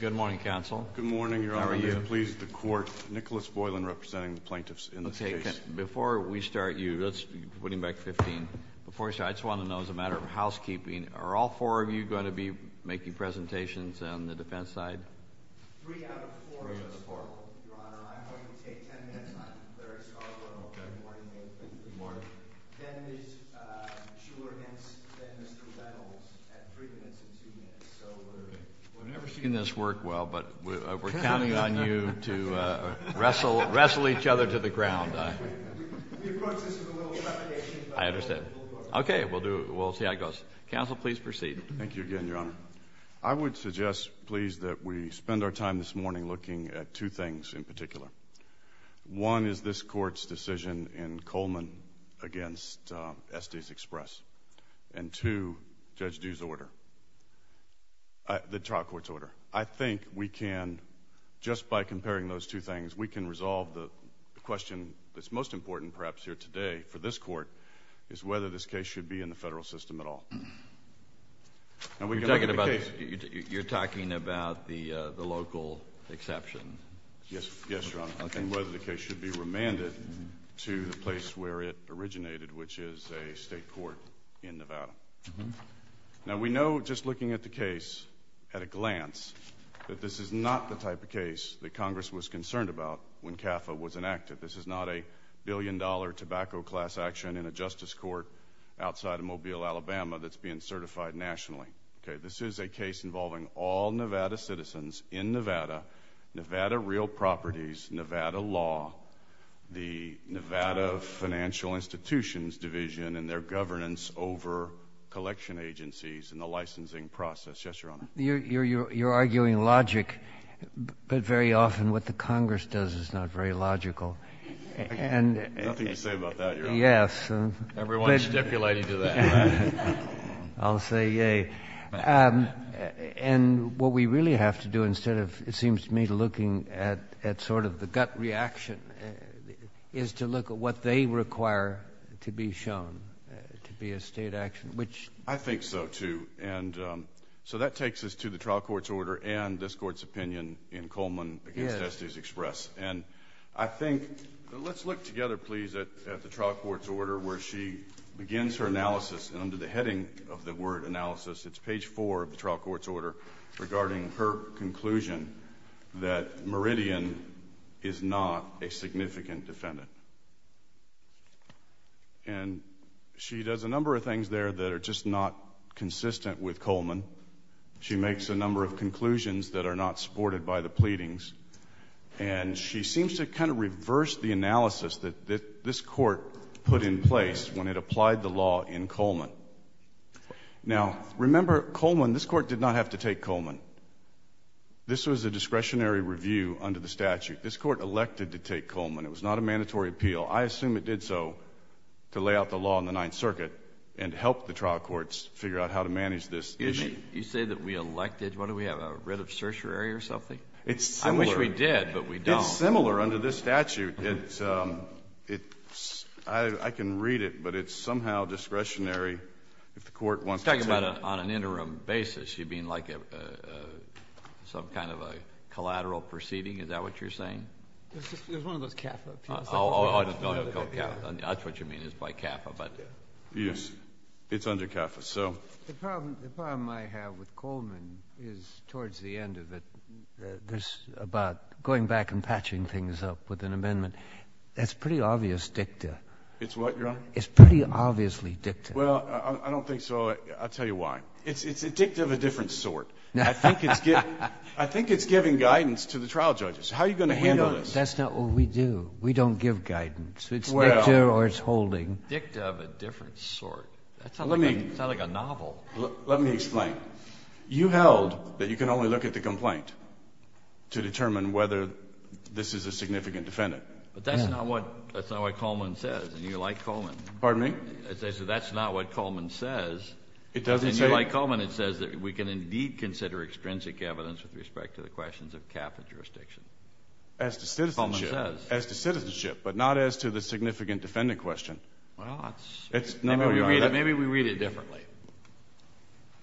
Good morning, Counsel. Good morning, Your Honor. How are you? Pleased to court. Nicholas Voiland representing the plaintiffs in this case. Before we start you, let's put him back to 15, before we start I just want to know as a matter of housekeeping, are all four of you going to be making presentations on the defense side? Three out of four, Your Honor. I'm going to take 10 minutes on the clerks. I'll go in the morning. Good morning. We've never seen this work well, but we're counting on you to wrestle each other to the ground. I understand. Okay. We'll do it. We'll see how it goes. Counsel, please proceed. Thank you again, Your Honor. I would suggest, please, that we spend our time this morning looking at two things in particular. One is this court's decision in Coleman against Estes Express, and two, Judge Dew's order, the trial court's order. I think we can, just by comparing those two things, we can resolve the question that's most important, perhaps, here today for this court, is whether this case should be in the federal system at all. You're talking about the local exception? Yes, Your Honor. I'm talking about whether the case should be remanded to the place where it originated, which is a state court in Nevada. Now, we know, just looking at the case, at a glance, that this is not the type of case that Congress was concerned about when CAFA was enacted. This is not a billion-dollar tobacco class action in a justice court outside of Mobile, Alabama, that's being certified nationally. Okay, this is a case involving all Nevada citizens in Nevada, Nevada real properties, Nevada law, the Nevada Financial Institutions Division, and their governance over collection agencies and the licensing process. Yes, Your Honor. You're arguing logic, but very often what the Congress does is not very logical, and... Nothing to say about that, Your Honor. Yes. Everyone's stipulating to that. I'll say, yay. And what we really have to do, instead of, it seems to me, looking at sort of the gut reaction, is to look at what they require to be shown to be a state action, which... I think so, too. So that takes us to the trial court's order and this Court's opinion in Coleman against Estes Express. Yes. And I think... Let's look together, please, at the trial court's order, where she begins her analysis, and under the heading of the word analysis, it's page four of the trial court's order, regarding her conclusion that Meridian is not a significant defendant. She does a number of things there that are just not consistent with Coleman. She makes a number of conclusions that are not supported by the pleadings, and she seems to kind of reverse the analysis that this Court put in place when it applied the law in Coleman. Now, remember, Coleman... this Court did not have to take Coleman. This was a discretionary review under the statute. This Court elected to take Coleman. It was not a mandatory appeal. I assume it did so to lay out the law in the Ninth Circuit and help the trial courts figure out how to manage this issue. You say that we elected... what did we have, a writ of certiorari or something? It's similar. I wish we did, but we don't. It's similar under this statute. I can read it, but it's somehow discretionary if the Court wants to take... You're talking about on an interim basis. You mean like some kind of a collateral proceeding? Is that what you're saying? It was one of those CAFA appeals. Oh, I just don't know what CAFA... that's what you mean is by CAFA, but... Yes. It's under CAFA, so... The problem I have with Coleman is towards the end of it, there's about going back and patching things up with an amendment that's pretty obvious dicta. It's what, Your Honor? It's pretty obviously dicta. Well, I don't think so. I'll tell you why. It's a dicta of a different sort. I think it's giving guidance to the trial judges. How are you going to handle this? That's not what we do. We don't give guidance. Well... It's dicta or it's holding. Dicta of a different sort. That sounds like a novel. Well, let me explain. You held that you can only look at the complaint to determine whether this is a significant defendant. But that's not what Coleman says, and you like Coleman. Pardon me? I said that's not what Coleman says. It doesn't say... And you like Coleman. It says that we can indeed consider extrinsic evidence with respect to the questions of CAFA jurisdiction. As to citizenship. Coleman says. As to citizenship, but not as to the significant defendant question. Well, that's... It's... No, Your Honor. Maybe we read it differently.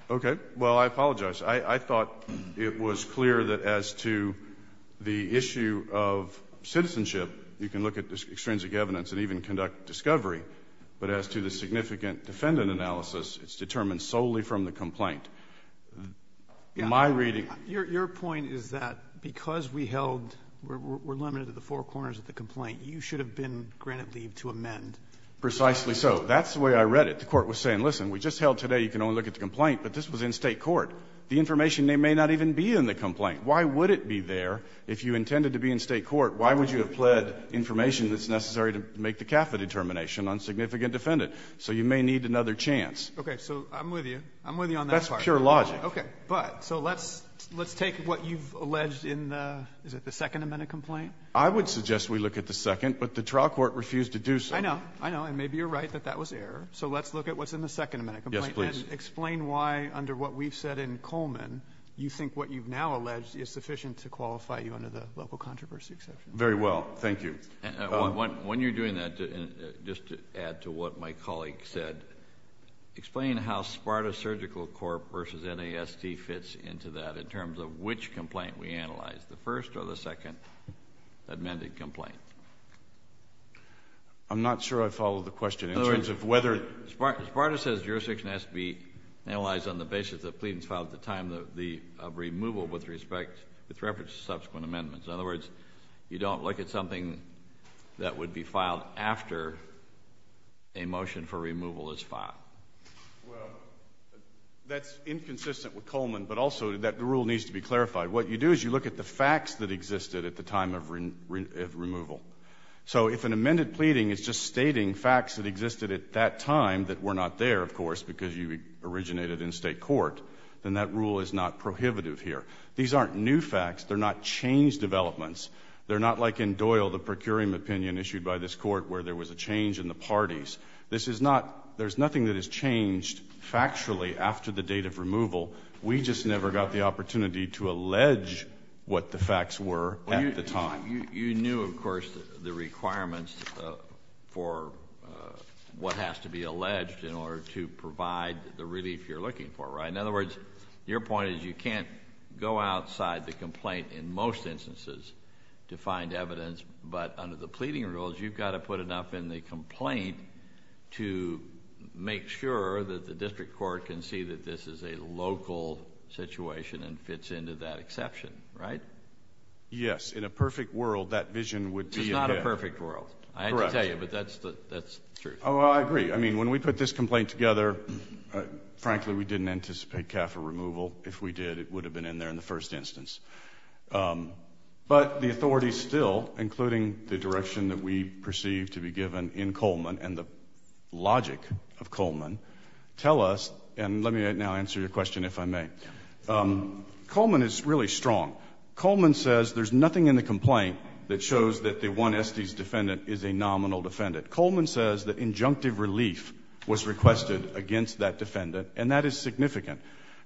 Okay. Well, I apologize. I thought it was clear that as to the issue of citizenship, you can look at the extrinsic evidence and even conduct discovery. But as to the significant defendant analysis, it's determined solely from the complaint. In my reading... Your point is that because we held... we're limited to the four corners of the complaint, you should have been granted leave to amend. Precisely so. So that's the way I read it. The court was saying, listen, we just held today, you can only look at the complaint, but this was in state court. The information may not even be in the complaint. Why would it be there if you intended to be in state court? Why would you have pled information that's necessary to make the CAFA determination on significant defendant? So you may need another chance. Okay. So I'm with you. I'm with you on that part. That's pure logic. Okay. But, so let's take what you've alleged in the... is it the second amendment complaint? I would suggest we look at the second, but the trial court refused to do so. I know. I know. I know. And maybe you're right that that was error. So let's look at what's in the second amendment complaint. Yes, please. And explain why, under what we've said in Coleman, you think what you've now alleged is sufficient to qualify you under the local controversy exception. Very well. Thank you. When you're doing that, just to add to what my colleague said, explain how SPARTA Surgical Corp. versus NASD fits into that in terms of which complaint we analyzed, the first or the second amended complaint. I'm not sure I follow the question in terms of whether... In other words, SPARTA says jurisdiction has to be analyzed on the basis of the pleadings filed at the time of removal with respect, with reference to subsequent amendments. In other words, you don't look at something that would be filed after a motion for removal is filed. Well, that's inconsistent with Coleman, but also that rule needs to be clarified. What you do is you look at the facts that existed at the time of removal. So if an amended pleading is just stating facts that existed at that time that were not there, of course, because you originated in state court, then that rule is not prohibitive here. These aren't new facts. They're not change developments. They're not like in Doyle, the procuring opinion issued by this court where there was a change in the parties. This is not... there's nothing that has changed factually after the date of removal. We just never got the opportunity to allege what the facts were at the time. You knew, of course, the requirements for what has to be alleged in order to provide the relief you're looking for, right? In other words, your point is you can't go outside the complaint in most instances to find evidence, but under the pleading rules, you've got to put enough in the complaint to make sure that the district court can see that this is a local situation and fits into that exception, right? Yes. In a perfect world, that vision would be... It's not a perfect world. Correct. I had to tell you, but that's true. Oh, I agree. I mean, when we put this complaint together, frankly, we didn't anticipate CAFA removal. If we did, it would have been in there in the first instance. But the authorities still, including the direction that we perceive to be given in Coleman and the logic of Coleman, tell us... and let me now answer your question, if I may. Coleman is really strong. Coleman says there's nothing in the complaint that shows that the one Estes defendant is a nominal defendant. Coleman says that injunctive relief was requested against that defendant, and that is significant.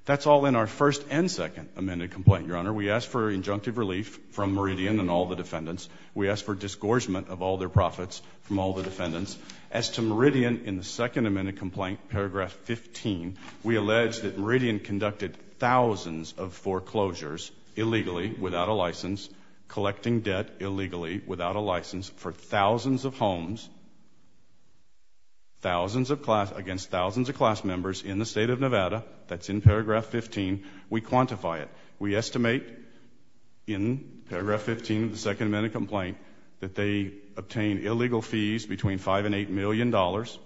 That's all in our first and second amended complaint, Your Honor. We asked for injunctive relief from Meridian and all the defendants. We asked for disgorgement of all their profits from all the defendants. As to Meridian in the second amended complaint, paragraph 15, we allege that Meridian conducted thousands of foreclosures illegally, without a license, collecting debt illegally, without a license, for thousands of homes, against thousands of class members in the State of Nevada. That's in paragraph 15. We quantify it. We estimate, in paragraph 15 of the second amended complaint, that they obtained illegal fees between five and eight million dollars.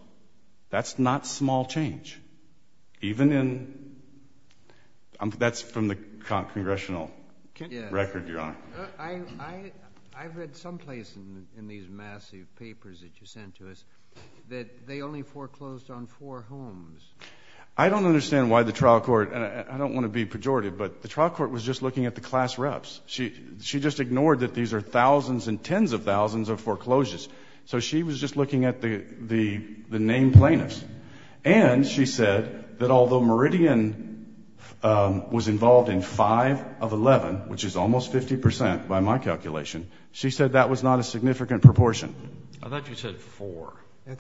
That's not small change, even in... that's from the congressional record, Your Honor. I've read someplace in these massive papers that you sent to us that they only foreclosed on four homes. I don't understand why the trial court... I don't want to be pejorative, but the trial court was just looking at the class reps. She just ignored that these are thousands and tens of thousands of foreclosures. So she was just looking at the named plaintiffs. And she said that although Meridian was involved in five of eleven, which is almost 50 percent by my calculation, she said that was not a significant proportion. I thought you said four. I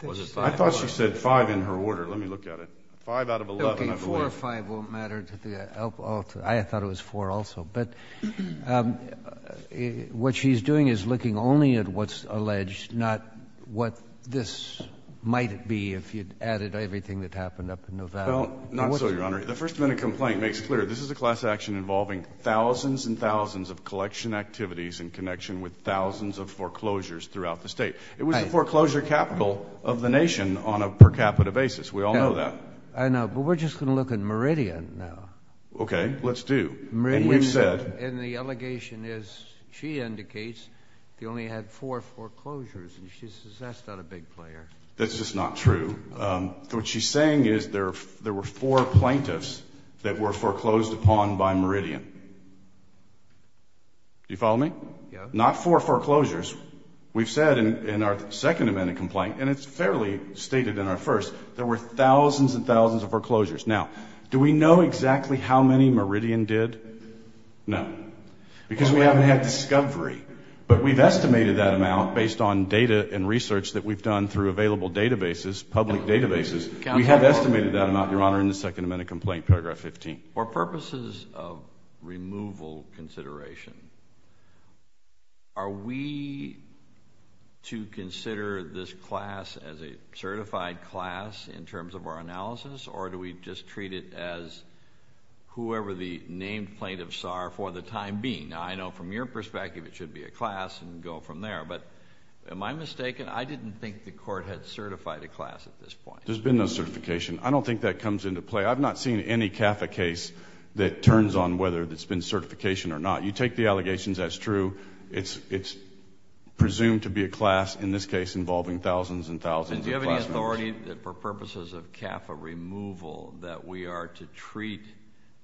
thought she said five in her order. Let me look at it. Five out of eleven, I believe. Okay. Four or five won't matter to the... I thought it was four also, but what she's doing is looking only at what's alleged, not what this might be if you'd added everything that happened up in Nevada. Well, not so, Your Honor. The first amendment complaint makes clear this is a class action involving thousands and thousands of collection activities in connection with thousands of foreclosures throughout the state. It was the foreclosure capital of the nation on a per capita basis. No. We all know that. I know. But we're just going to look at Meridian now. Okay. Let's do. Meridian... And we've said... And the allegation is she indicates they only had four foreclosures, and she says that's not a big player. That's just not true. What she's saying is there were four plaintiffs that were foreclosed upon by Meridian. Do you follow me? Yes. Not four foreclosures. We've said in our second amendment complaint, and it's fairly stated in our first, there were thousands and thousands of foreclosures. Now, do we know exactly how many Meridian did? No. Because we haven't had discovery, but we've estimated that amount based on data and research that we've done through available databases, public databases, we have estimated that amount, Your Honor, in the second amendment complaint, paragraph 15. For purposes of removal consideration, are we to consider this class as a certified class in terms of our analysis, or do we just treat it as whoever the named plaintiff saw her for the time being? Now, I know from your perspective, it should be a class and go from there, but am I mistaken? I didn't think the court had certified a class at this point. There's been no certification. I don't think that comes into play. I've not seen any CAFA case that turns on whether there's been certification or not. You take the allegations as true, it's presumed to be a class, in this case, involving thousands and thousands of class members. For purposes of CAFA removal, that we are to treat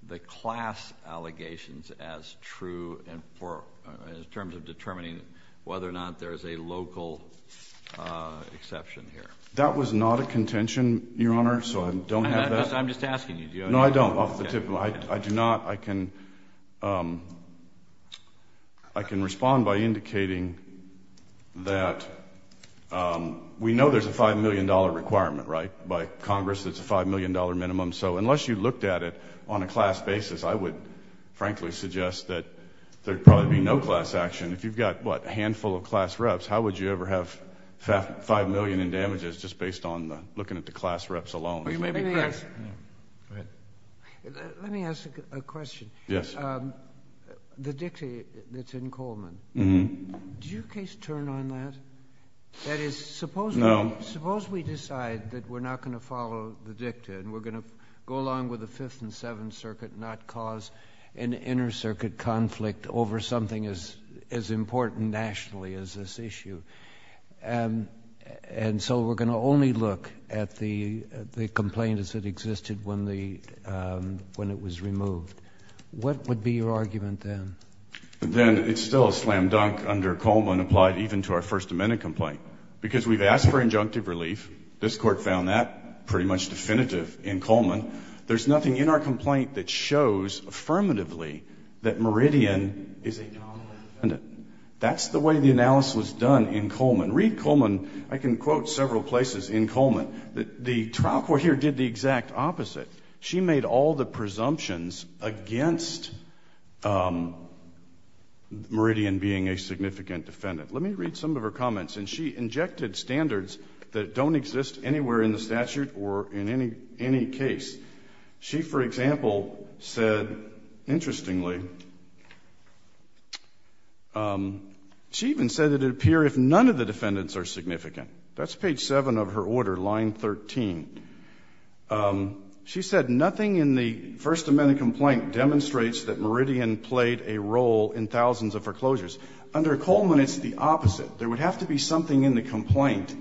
the class allegations as true, in terms of determining whether or not there's a local exception here. That was not a contention, Your Honor, so I don't have that. I'm just asking you. No, I don't. Off the tip of my, I do not, I can respond by indicating that we know there's a $5 million requirement, right? By Congress, it's a $5 million minimum, so unless you looked at it on a class basis, I would, frankly, suggest that there'd probably be no class action. If you've got, what, a handful of class reps, how would you ever have $5 million in damages just based on looking at the class reps alone? Let me ask a question. Yes. The dictate that's in Coleman, did your case turn on that? That is, suppose we decide that we're not going to follow the dicta, and we're going to go along with the Fifth and Seventh Circuit, not cause an inner-circuit conflict over something as important nationally as this issue, and so we're going to only look at the complaint as it existed when it was removed. What would be your argument then? Then it's still a slam-dunk under Coleman applied even to our First Amendment complaint. Because we've asked for injunctive relief, this Court found that pretty much definitive in Coleman. There's nothing in our complaint that shows affirmatively that Meridian is a nominal defendant. That's the way the analysis was done in Coleman. Reed Coleman, I can quote several places in Coleman, that the trial court here did the exact opposite. She made all the presumptions against Meridian being a significant defendant. Let me read some of her comments. She injected standards that don't exist anywhere in the statute or in any case. She for example said, interestingly, she even said that it would appear if none of the defendants are significant. That's page 7 of her order, line 13. She said, nothing in the First Amendment complaint demonstrates that Meridian played a role in thousands of foreclosures. Under Coleman, it's the opposite. There would have to be something in the complaint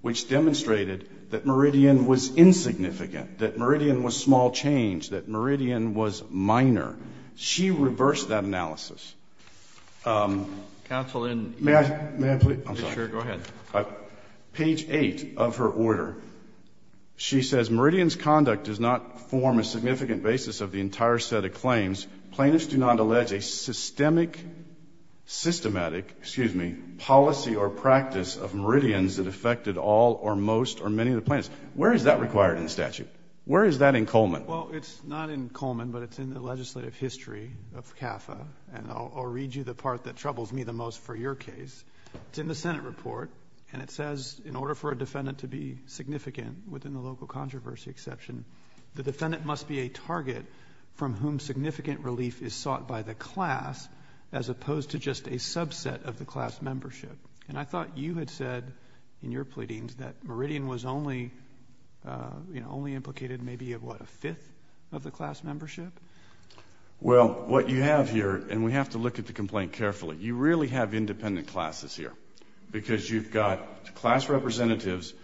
which demonstrated that Meridian was insignificant. That Meridian was small change. That Meridian was minor. She reversed that analysis. Counsel, in... May I... I'm sorry. Sure, go ahead. Page 8 of her order, she says Meridian's conduct does not form a significant basis of the entire set of claims. Plaintiffs do not allege a systemic, systematic, excuse me, policy or practice of Meridian's that affected all or most or many of the plaintiffs. Where is that required in the statute? Where is that in Coleman? Well, it's not in Coleman, but it's in the legislative history of CAFA. And I'll read you the part that troubles me the most for your case. It's in the Senate report, and it says in order for a defendant to be significant within the local controversy exception, the defendant must be a target from whom significant relief is sought by the class as opposed to just a subset of the class membership. And I thought you had said in your pleadings that Meridian was only, you know, only implicated maybe of what, a fifth of the class membership? Well, what you have here, and we have to look at the complaint carefully, you really have independent classes here because you've got class representatives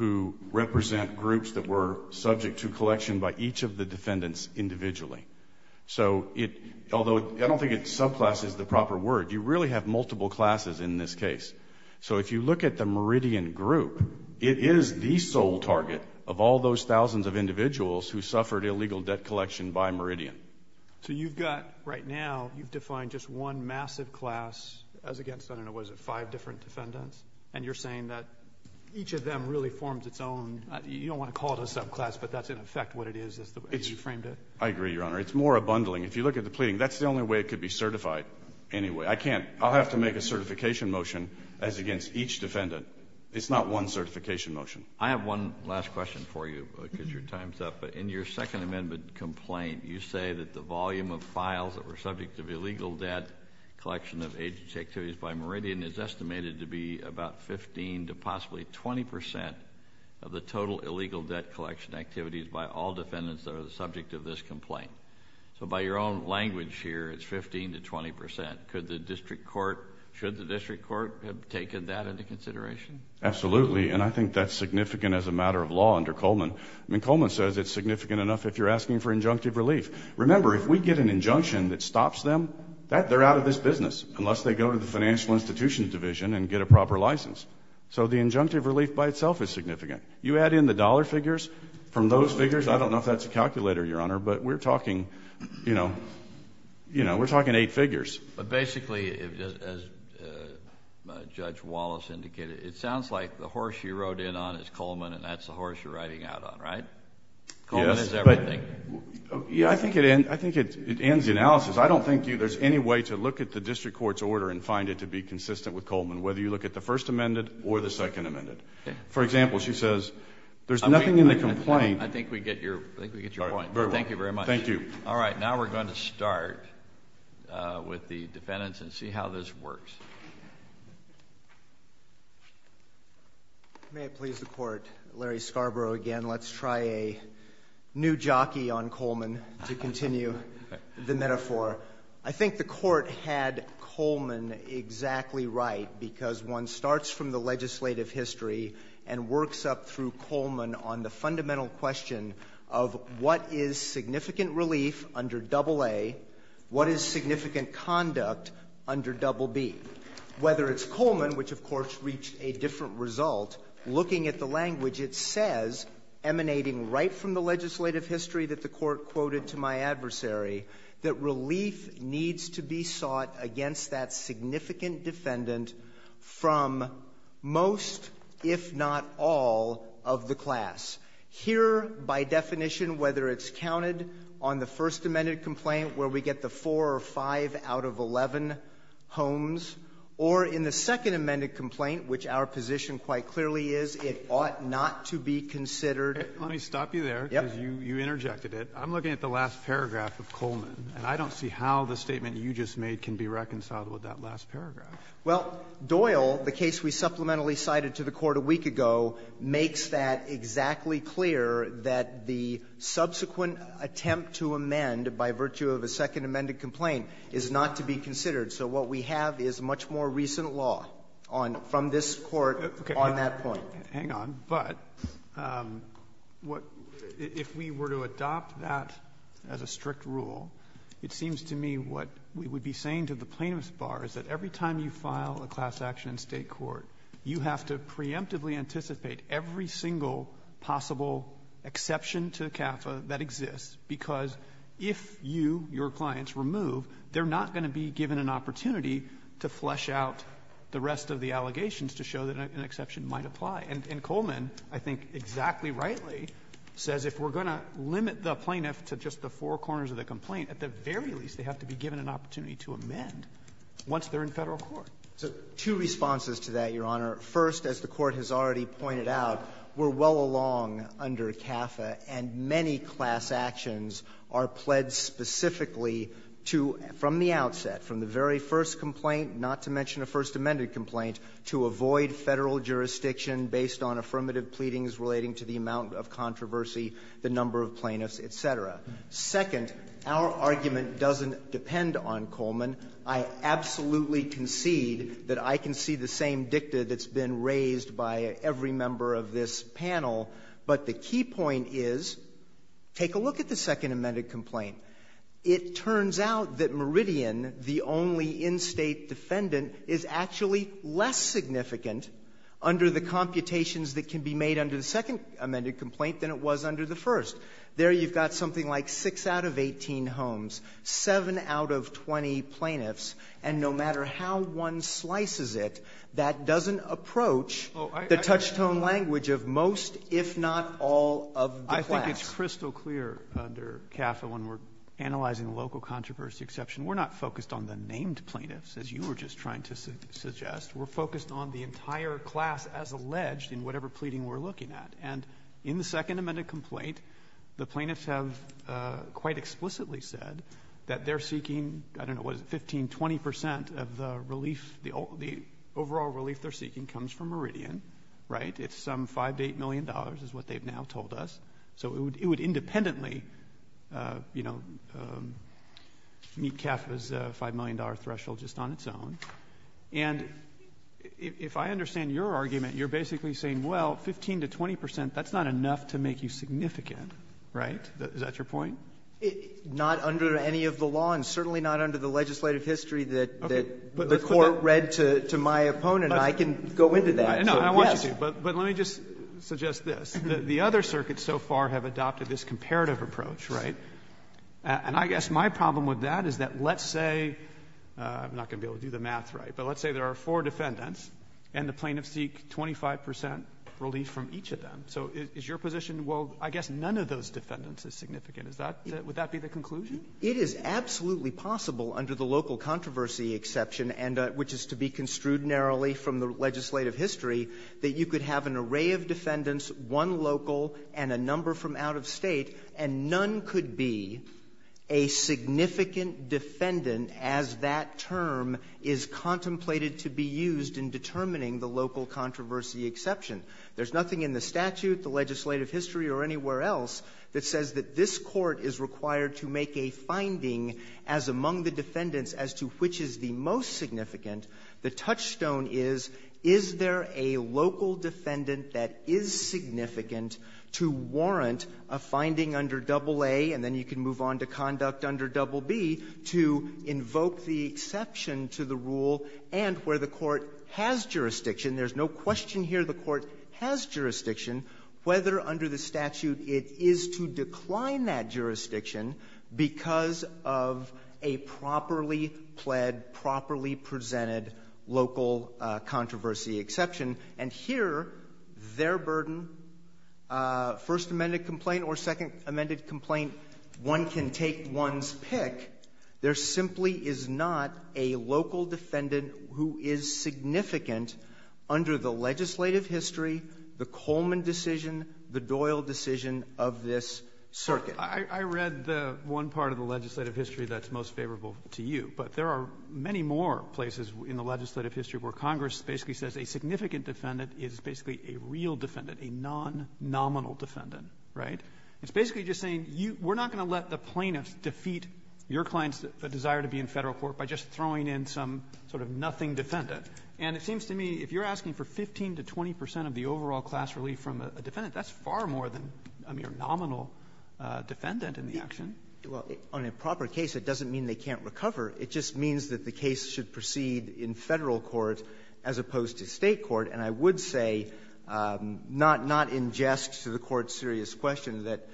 who represent groups that were subject to collection by each of the defendants individually. So it, although I don't think subclass is the proper word, you really have multiple classes in this case. So if you look at the Meridian group, it is the sole target of all those thousands of individuals who suffered illegal debt collection by Meridian. So you've got, right now, you've defined just one massive class as against, I don't know, what is it, five different defendants? And you're saying that each of them really forms its own, you don't want to call it a subclass, but that's in effect what it is as you framed it? I agree, Your Honor. It's more a bundling. If you look at the pleading, that's the only way it could be certified anyway. I can't, I'll have to make a certification motion as against each defendant. It's not one certification motion. I have one last question for you because your time's up. In your Second Amendment complaint, you say that the volume of files that were subject to illegal debt collection of agency activities by Meridian is estimated to be about 15 to possibly 20% of the total illegal debt collection activities by all defendants that are subject to this complaint. So by your own language here, it's 15 to 20%. Could the district court, should the district court have taken that into consideration? Absolutely. And I think that's significant as a matter of law under Coleman. I mean, Coleman says it's significant enough if you're asking for injunctive relief. Remember, if we get an injunction that stops them, they're out of this business unless they go to the financial institutions division and get a proper license. So the injunctive relief by itself is significant. You add in the dollar figures from those figures, I don't know if that's a calculator, Your Honor, but we're talking, you know, we're talking eight figures. But basically, as Judge Wallace indicated, it sounds like the horse you rode in on is on, right? Yes. Coleman is everything. Yeah, I think it ends the analysis. I don't think there's any way to look at the district court's order and find it to be consistent with Coleman, whether you look at the First Amendment or the Second Amendment. For example, she says, there's nothing in the complaint. I think we get your point. Very well. Thank you very much. Thank you. All right. Now we're going to start with the defendants and see how this works. May it please the court, Larry Scarborough again. Let's try a new jockey on Coleman to continue the metaphor. I think the court had Coleman exactly right because one starts from the legislative history and works up through Coleman on the fundamental question of what is significant relief under Double A? What is significant conduct under Double B? Whether it's Coleman, which of course reached a different result, looking at the language it says emanating right from the legislative history that the court quoted to my adversary that relief needs to be sought against that significant defendant from most, if not all, of the class. Here, by definition, whether it's counted on the First Amendment complaint where we get the 4 or 5 out of 11 homes, or in the Second Amendment complaint, which our position quite clearly is, it ought not to be considered. Let me stop you there because you interjected it. I'm looking at the last paragraph of Coleman, and I don't see how the statement you just made can be reconciled with that last paragraph. Well, Doyle, the case we supplementally cited to the court a week ago, makes that exactly clear that the subsequent attempt to amend by virtue of a Second Amendment complaint is not to be considered. So what we have is much more recent law from this court on that point. Hang on. But if we were to adopt that as a strict rule, it seems to me what we would be saying to the plaintiff's bar is that every time you file a class action in state court, you have to preemptively anticipate every single possible exception to CAFA that exists because if you, your clients, remove, they're not going to be given an opportunity to flesh out the rest of the allegations to show that an exception might apply. And Coleman, I think exactly rightly, says if we're going to limit the plaintiff to just the four corners of the complaint, at the very least they have to be given an opportunity to amend once they're in Federal court. So two responses to that, Your Honor. First, as the Court has already pointed out, we're well along under CAFA and many class actions are pledged specifically to, from the outset, from the very first complaint, not to mention a First Amendment complaint, to avoid Federal jurisdiction based on affirmative pleadings relating to the amount of controversy, the number of plaintiffs, et cetera. Second, our argument doesn't depend on Coleman. I absolutely concede that I can see the same dicta that's been raised by every member of this panel. But the key point is, take a look at the Second Amended Complaint. It turns out that Meridian, the only in-state defendant, is actually less significant under the computations that can be made under the Second Amended Complaint than it was under the First. There you've got something like 6 out of 18 homes, 7 out of 20 plaintiffs, and no matter how one slices it, that doesn't approach the touch-tone language of most, if not all, of the class. I think it's crystal clear under CAFA when we're analyzing local controversy exception, we're not focused on the named plaintiffs, as you were just trying to suggest. We're focused on the entire class as alleged in whatever pleading we're looking at. In the Second Amended Complaint, the plaintiffs have quite explicitly said that they're seeking, I don't know, what is it, 15, 20 percent of the overall relief they're seeking comes from Meridian. Right? It's some $5 to $8 million is what they've now told us. So it would independently meet CAFA's $5 million threshold just on its own. And if I understand your argument, you're basically saying, well, 15 to 20 percent, that's not enough to make you significant. Right? Is that your point? Not under any of the law, and certainly not under the legislative history that the Court read to my opponent. I can go into that. No, I want you to. But let me just suggest this. The other circuits so far have adopted this comparative approach, right? And I guess my problem with that is that let's say, I'm not going to be able to do the math right, but let's say there are four defendants and the plaintiffs seek 25 percent relief from each of them. So is your position, well, I guess none of those defendants is significant. Would that be the conclusion? It is absolutely possible under the local controversy exception, which is to be construed narrowly from the legislative history, that you could have an array of defendants, one local and a number from out-of-state, and none could be a significant defendant as that term is contemplated to be used in determining the local controversy exception. There's nothing in the statute, the legislative history, or anywhere else that says that this Court is required to make a finding as among the defendants as to which is the most significant. The touchstone is, is there a local defendant that is significant to warrant a finding under AA, and then you can move on to conduct under BB, to invoke the exception to the rule and where the Court has jurisdiction, there's no question here the Court has jurisdiction, whether under the statute it is to decline that jurisdiction because of a properly pled, properly presented local controversy exception. And here, their burden, first amended complaint or second amended complaint, one can take one's pick. There simply is not a local defendant who is significant under the legislative history, the Coleman decision, the Doyle decision of this circuit. I read the one part of the legislative history that's most favorable to you, but there are many more places in the legislative history where Congress basically says a significant defendant is basically a real defendant, a non-nominal defendant, right? It's basically just saying, we're not going to let the plaintiffs defeat your client's desire to be in federal court by just throwing in some sort of nothing defendant. And it seems to me, if you're asking for 15 to 20 percent of the overall class relief from a defendant, that's far more than a mere nominal defendant in the action. Well, on a proper case, it doesn't mean they can't recover. It just means that the case should proceed in Federal court as opposed to State court. And I would say, not in jest to the Court's serious question, that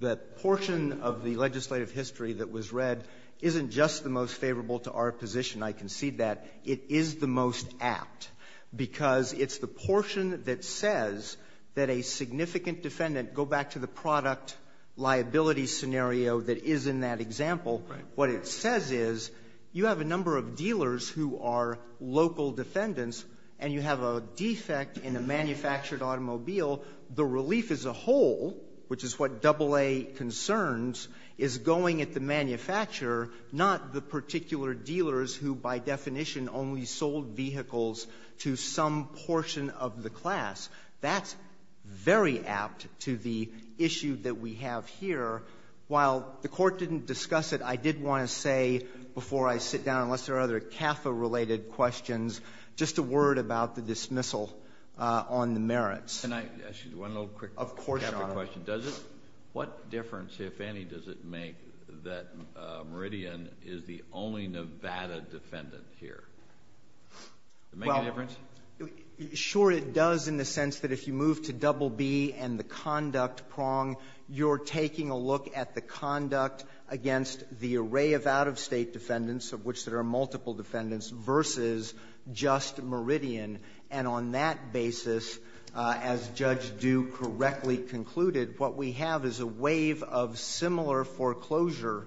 the portion of the legislative history that was read isn't just the most favorable to our position. I concede that. It is the most apt, because it's the portion that says that a significant defendant, go back to the product liability scenario that is in that example, what it says is, you have a number of dealers who are local defendants, and you have a defect in a manufactured automobile. The relief as a whole, which is what AA concerns, is going at the manufacturer, not the particular dealers who, by definition, only sold vehicles to some portion of the class. That's very apt to the issue that we have here. While the Court didn't discuss it, I did want to say before I sit down, unless there are other CAFA-related questions, just a word about the dismissal on the merits. Can I ask you one little quick CAFA question? Of course, Your Honor. Does it, what difference, if any, does it make that Meridian is the only Nevada defendant here? Does it make a difference? Well, sure it does in the sense that if you move to BB and the conduct prong, you're taking a look at the conduct against the array of out-of-state defendants, of which there are multiple defendants, versus just Meridian. And on that basis, as Judge Duke correctly concluded, what we have is a wave of similar foreclosure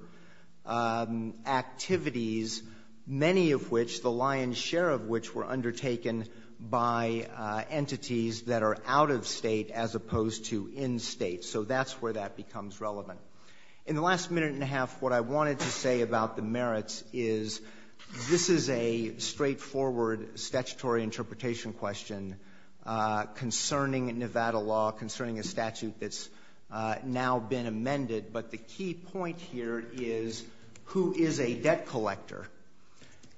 activities, many of which, the lion's share of which, were undertaken by entities that are out-of-state as opposed to in-state. So that's where that becomes relevant. In the last minute and a half, what I wanted to say about the merits is this is a straightforward statutory interpretation question concerning Nevada law, concerning a statute that's now been amended. But the key point here is who is a debt collector?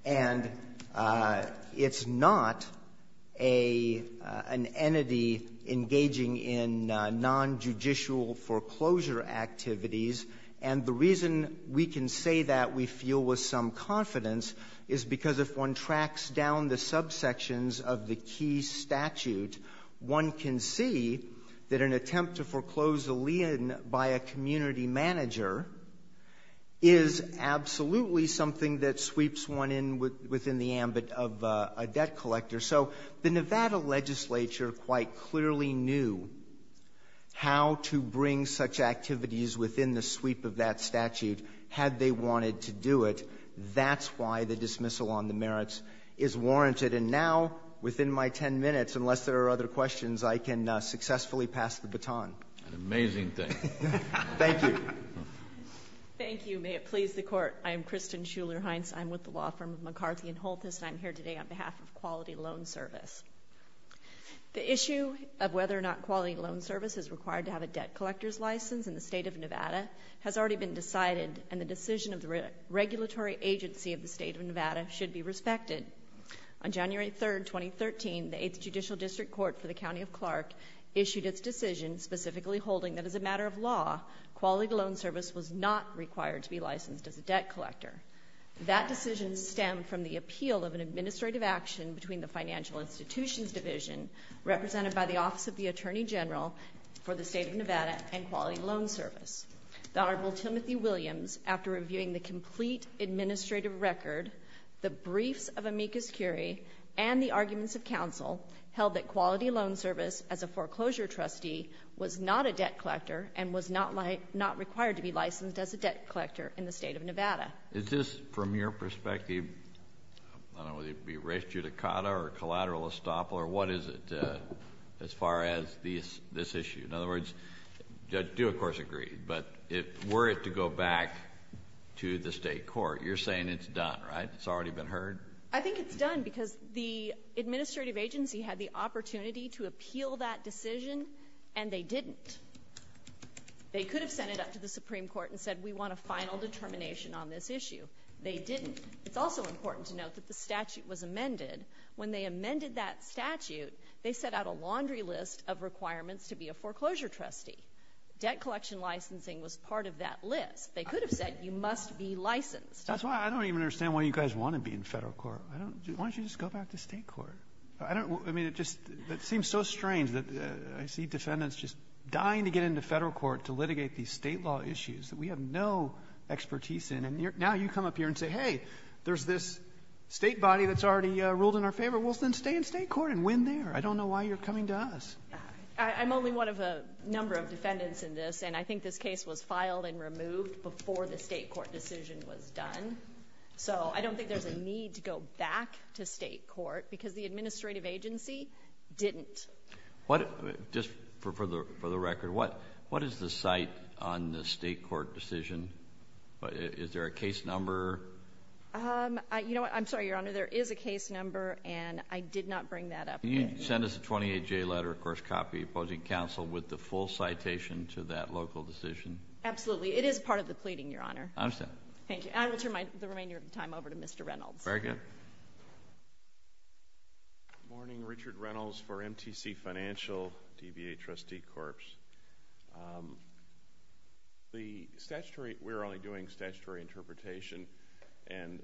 And it's not an entity engaging in non-judicial foreclosure activities. And the reason we can say that we feel with some confidence is because if one tracks down the subsections of the key statute, one can see that an attempt to foreclose a lien by a community manager is absolutely something that sweeps one in within the ambit of a debt collector. So the Nevada legislature quite clearly knew how to bring such activities within the sweep of that statute had they wanted to do it. That's why the dismissal on the merits is warranted. And now, within my 10 minutes, unless there are other questions, I can successfully pass the baton. An amazing thing. Thank you. Thank you. May it please the Court. I am Kristen Schuler-Heinz. I'm with the law firm of McCarthy & Holthus, and I'm here today on behalf of Quality Loan Service. The issue of whether or not Quality Loan Service is required to have a debt collector's license in the State of Nevada has already been decided, and the decision of the regulatory agency of the State of Nevada should be respected. On January 3, 2013, the 8th Judicial District Court for the County of Clark issued its decision specifically holding that as a matter of law, Quality Loan Service was not required to be licensed as a debt collector. That decision stemmed from the appeal of an administrative action between the Financial Institutions Division, represented by the Office of the Attorney General for the State of Nevada, and Quality Loan Service. The Honorable Timothy Williams, after reviewing the complete administrative record, the briefs of amicus curiae, and the arguments of counsel, held that Quality Loan Service, as a foreclosure trustee, was not a debt collector and was not required to be licensed as a debt collector in the State of Nevada. Is this, from your perspective, I don't know whether it would be res judicata or collateral estoppel, or what is it as far as this issue? In other words, I do, of course, agree, but were it to go back to the State Court, you're saying it's done, right? It's already been heard? I think it's done because the administrative agency had the opportunity to appeal that decision and they didn't. They could have sent it up to the Supreme Court and said, we want a final determination on this issue. They didn't. It's also important to note that the statute was amended. When they amended that statute, they set out a laundry list of requirements to be a foreclosure trustee. Debt collection licensing was part of that list. They could have said, you must be licensed. That's why I don't even understand why you guys want to be in federal court. Why don't you just go back to State Court? It seems so strange that I see defendants just dying to get into federal court to litigate these state law issues that we have no expertise in, and now you come up here and say, hey, there's this state body that's already ruled in our favor. Well, then stay in State Court and win there. I don't know why you're coming to us. I'm only one of a number of defendants in this, and I think this case was filed and removed before the State Court decision was done, so I don't think there's a need to go back to State Court because the administrative agency didn't. Just for the record, what is the site on the State Court decision? Is there a case number? You know what? I'm sorry, Your Honor. There is a case number, and I did not bring that up. Can you send us a 28-J letter, of course, copy, opposing counsel, with the full citation to that local decision? Absolutely. It is part of the pleading, Your Honor. I understand. Thank you. I will turn the remainder of my time over to Mr. Reynolds. Very good. Good morning. Richard Reynolds for MTC Financial, DVA Trustee Corps. The statutory—we're only doing statutory interpretation, and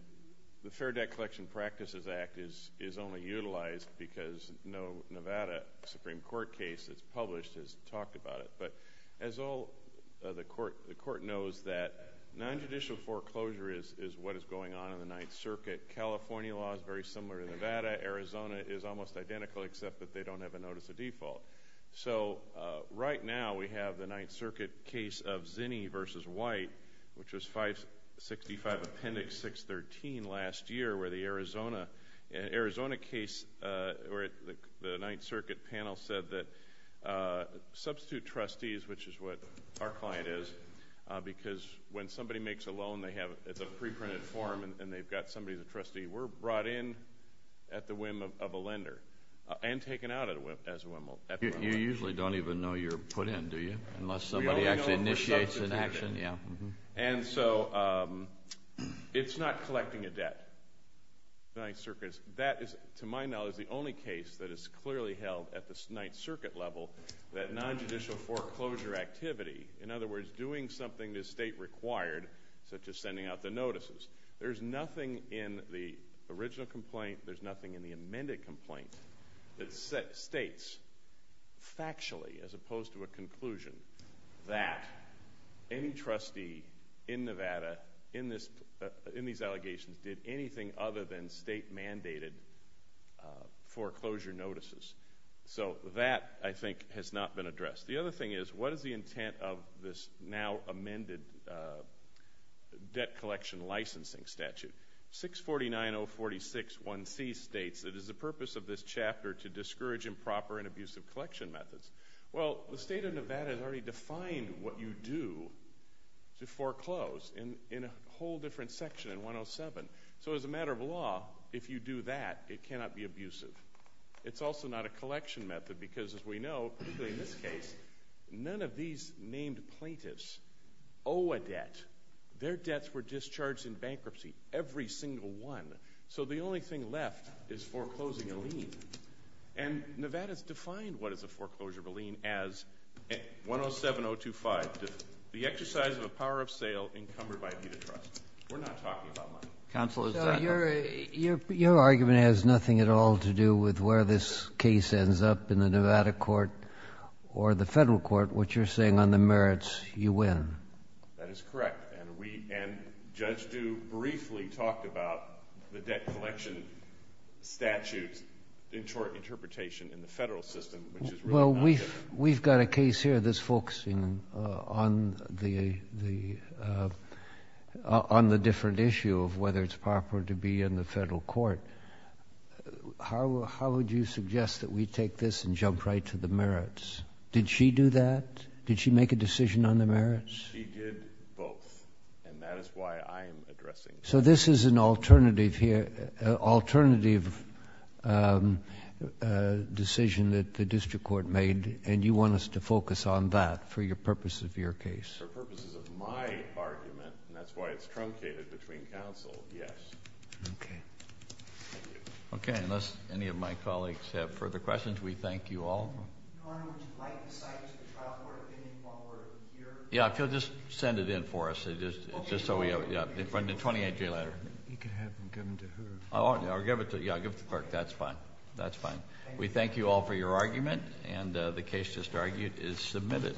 the Fair Debt Collection Practices Act is only utilized because no Nevada Supreme Court case that's published has talked about it. But as all the court knows, that nonjudicial foreclosure is what is going on in the Ninth Circuit. California law is very similar to Nevada. Arizona is almost identical, except that they don't have a notice of default. So, right now, we have the Ninth Circuit case of Zinni v. White, which was 565 Appendix 613 last year, where the Arizona case—the Ninth Circuit panel said that substitute trustees, which is what our client is, because when somebody makes a loan, they have—it's a preprinted form, and they've got somebody, the trustee, brought in at the whim of a lender and taken out at the whim of a lender. You usually don't even know you're put in, do you? Unless somebody actually initiates an action. And so, it's not collecting a debt, the Ninth Circuit. That is, to my knowledge, the only case that is clearly held at the Ninth Circuit level, that nonjudicial foreclosure activity—in other words, doing something the state required, such as sending out the notices. There's nothing in the original complaint. There's nothing in the amended complaint that states factually, as opposed to a conclusion, that any trustee in Nevada, in these allegations, did anything other than state-mandated foreclosure notices. So, that, I think, has not been addressed. The other thing is, what is the intent of this now-amended debt collection licensing statute? 6490461C states, it is the purpose of this chapter to discourage improper and abusive collection methods. Well, the state of Nevada has already defined what you do to foreclose in a whole different section, in 107. So, as a matter of law, if you do that, it cannot be abusive. It's also not a collection method, because, as we know, particularly in this case, none of these named plaintiffs owe a debt. Their debts were discharged in bankruptcy, every single one. So, the only thing left is foreclosing a lien. And Nevada's defined what is a foreclosure of a lien as 107025, the exercise of a power of sale encumbered by a deed of trust. We're not talking about money. Counsel, is that— So, your argument has nothing at all to do with where this case ends up in the Nevada court or the federal court, what you're saying on the merits you win. That is correct. And Judge Dew briefly talked about the debt collection statute interpretation in the federal system, which is really not— We've got a case here that's focusing on the different issue of whether it's proper to be in the federal court. How would you suggest that we take this and jump right to the merits? Did she do that? Did she make a decision on the merits? She did both, and that is why I'm addressing this. So, this is an alternative decision that the district court made, and you want us to focus on that for the purposes of your case? For the purposes of my argument, and that's why it's truncated between counsel, yes. Okay. Thank you. Okay. Unless any of my colleagues have further questions, we thank you all. Your Honor, would you like to cite the trial court opinion one more year? Yeah, if you'll just send it in for us. Just so we have it. From the 28-day letter. You can have it and give it to who? Yeah, I'll give it to the clerk. That's fine. That's fine. We thank you all for your argument, and the case just argued is submitted.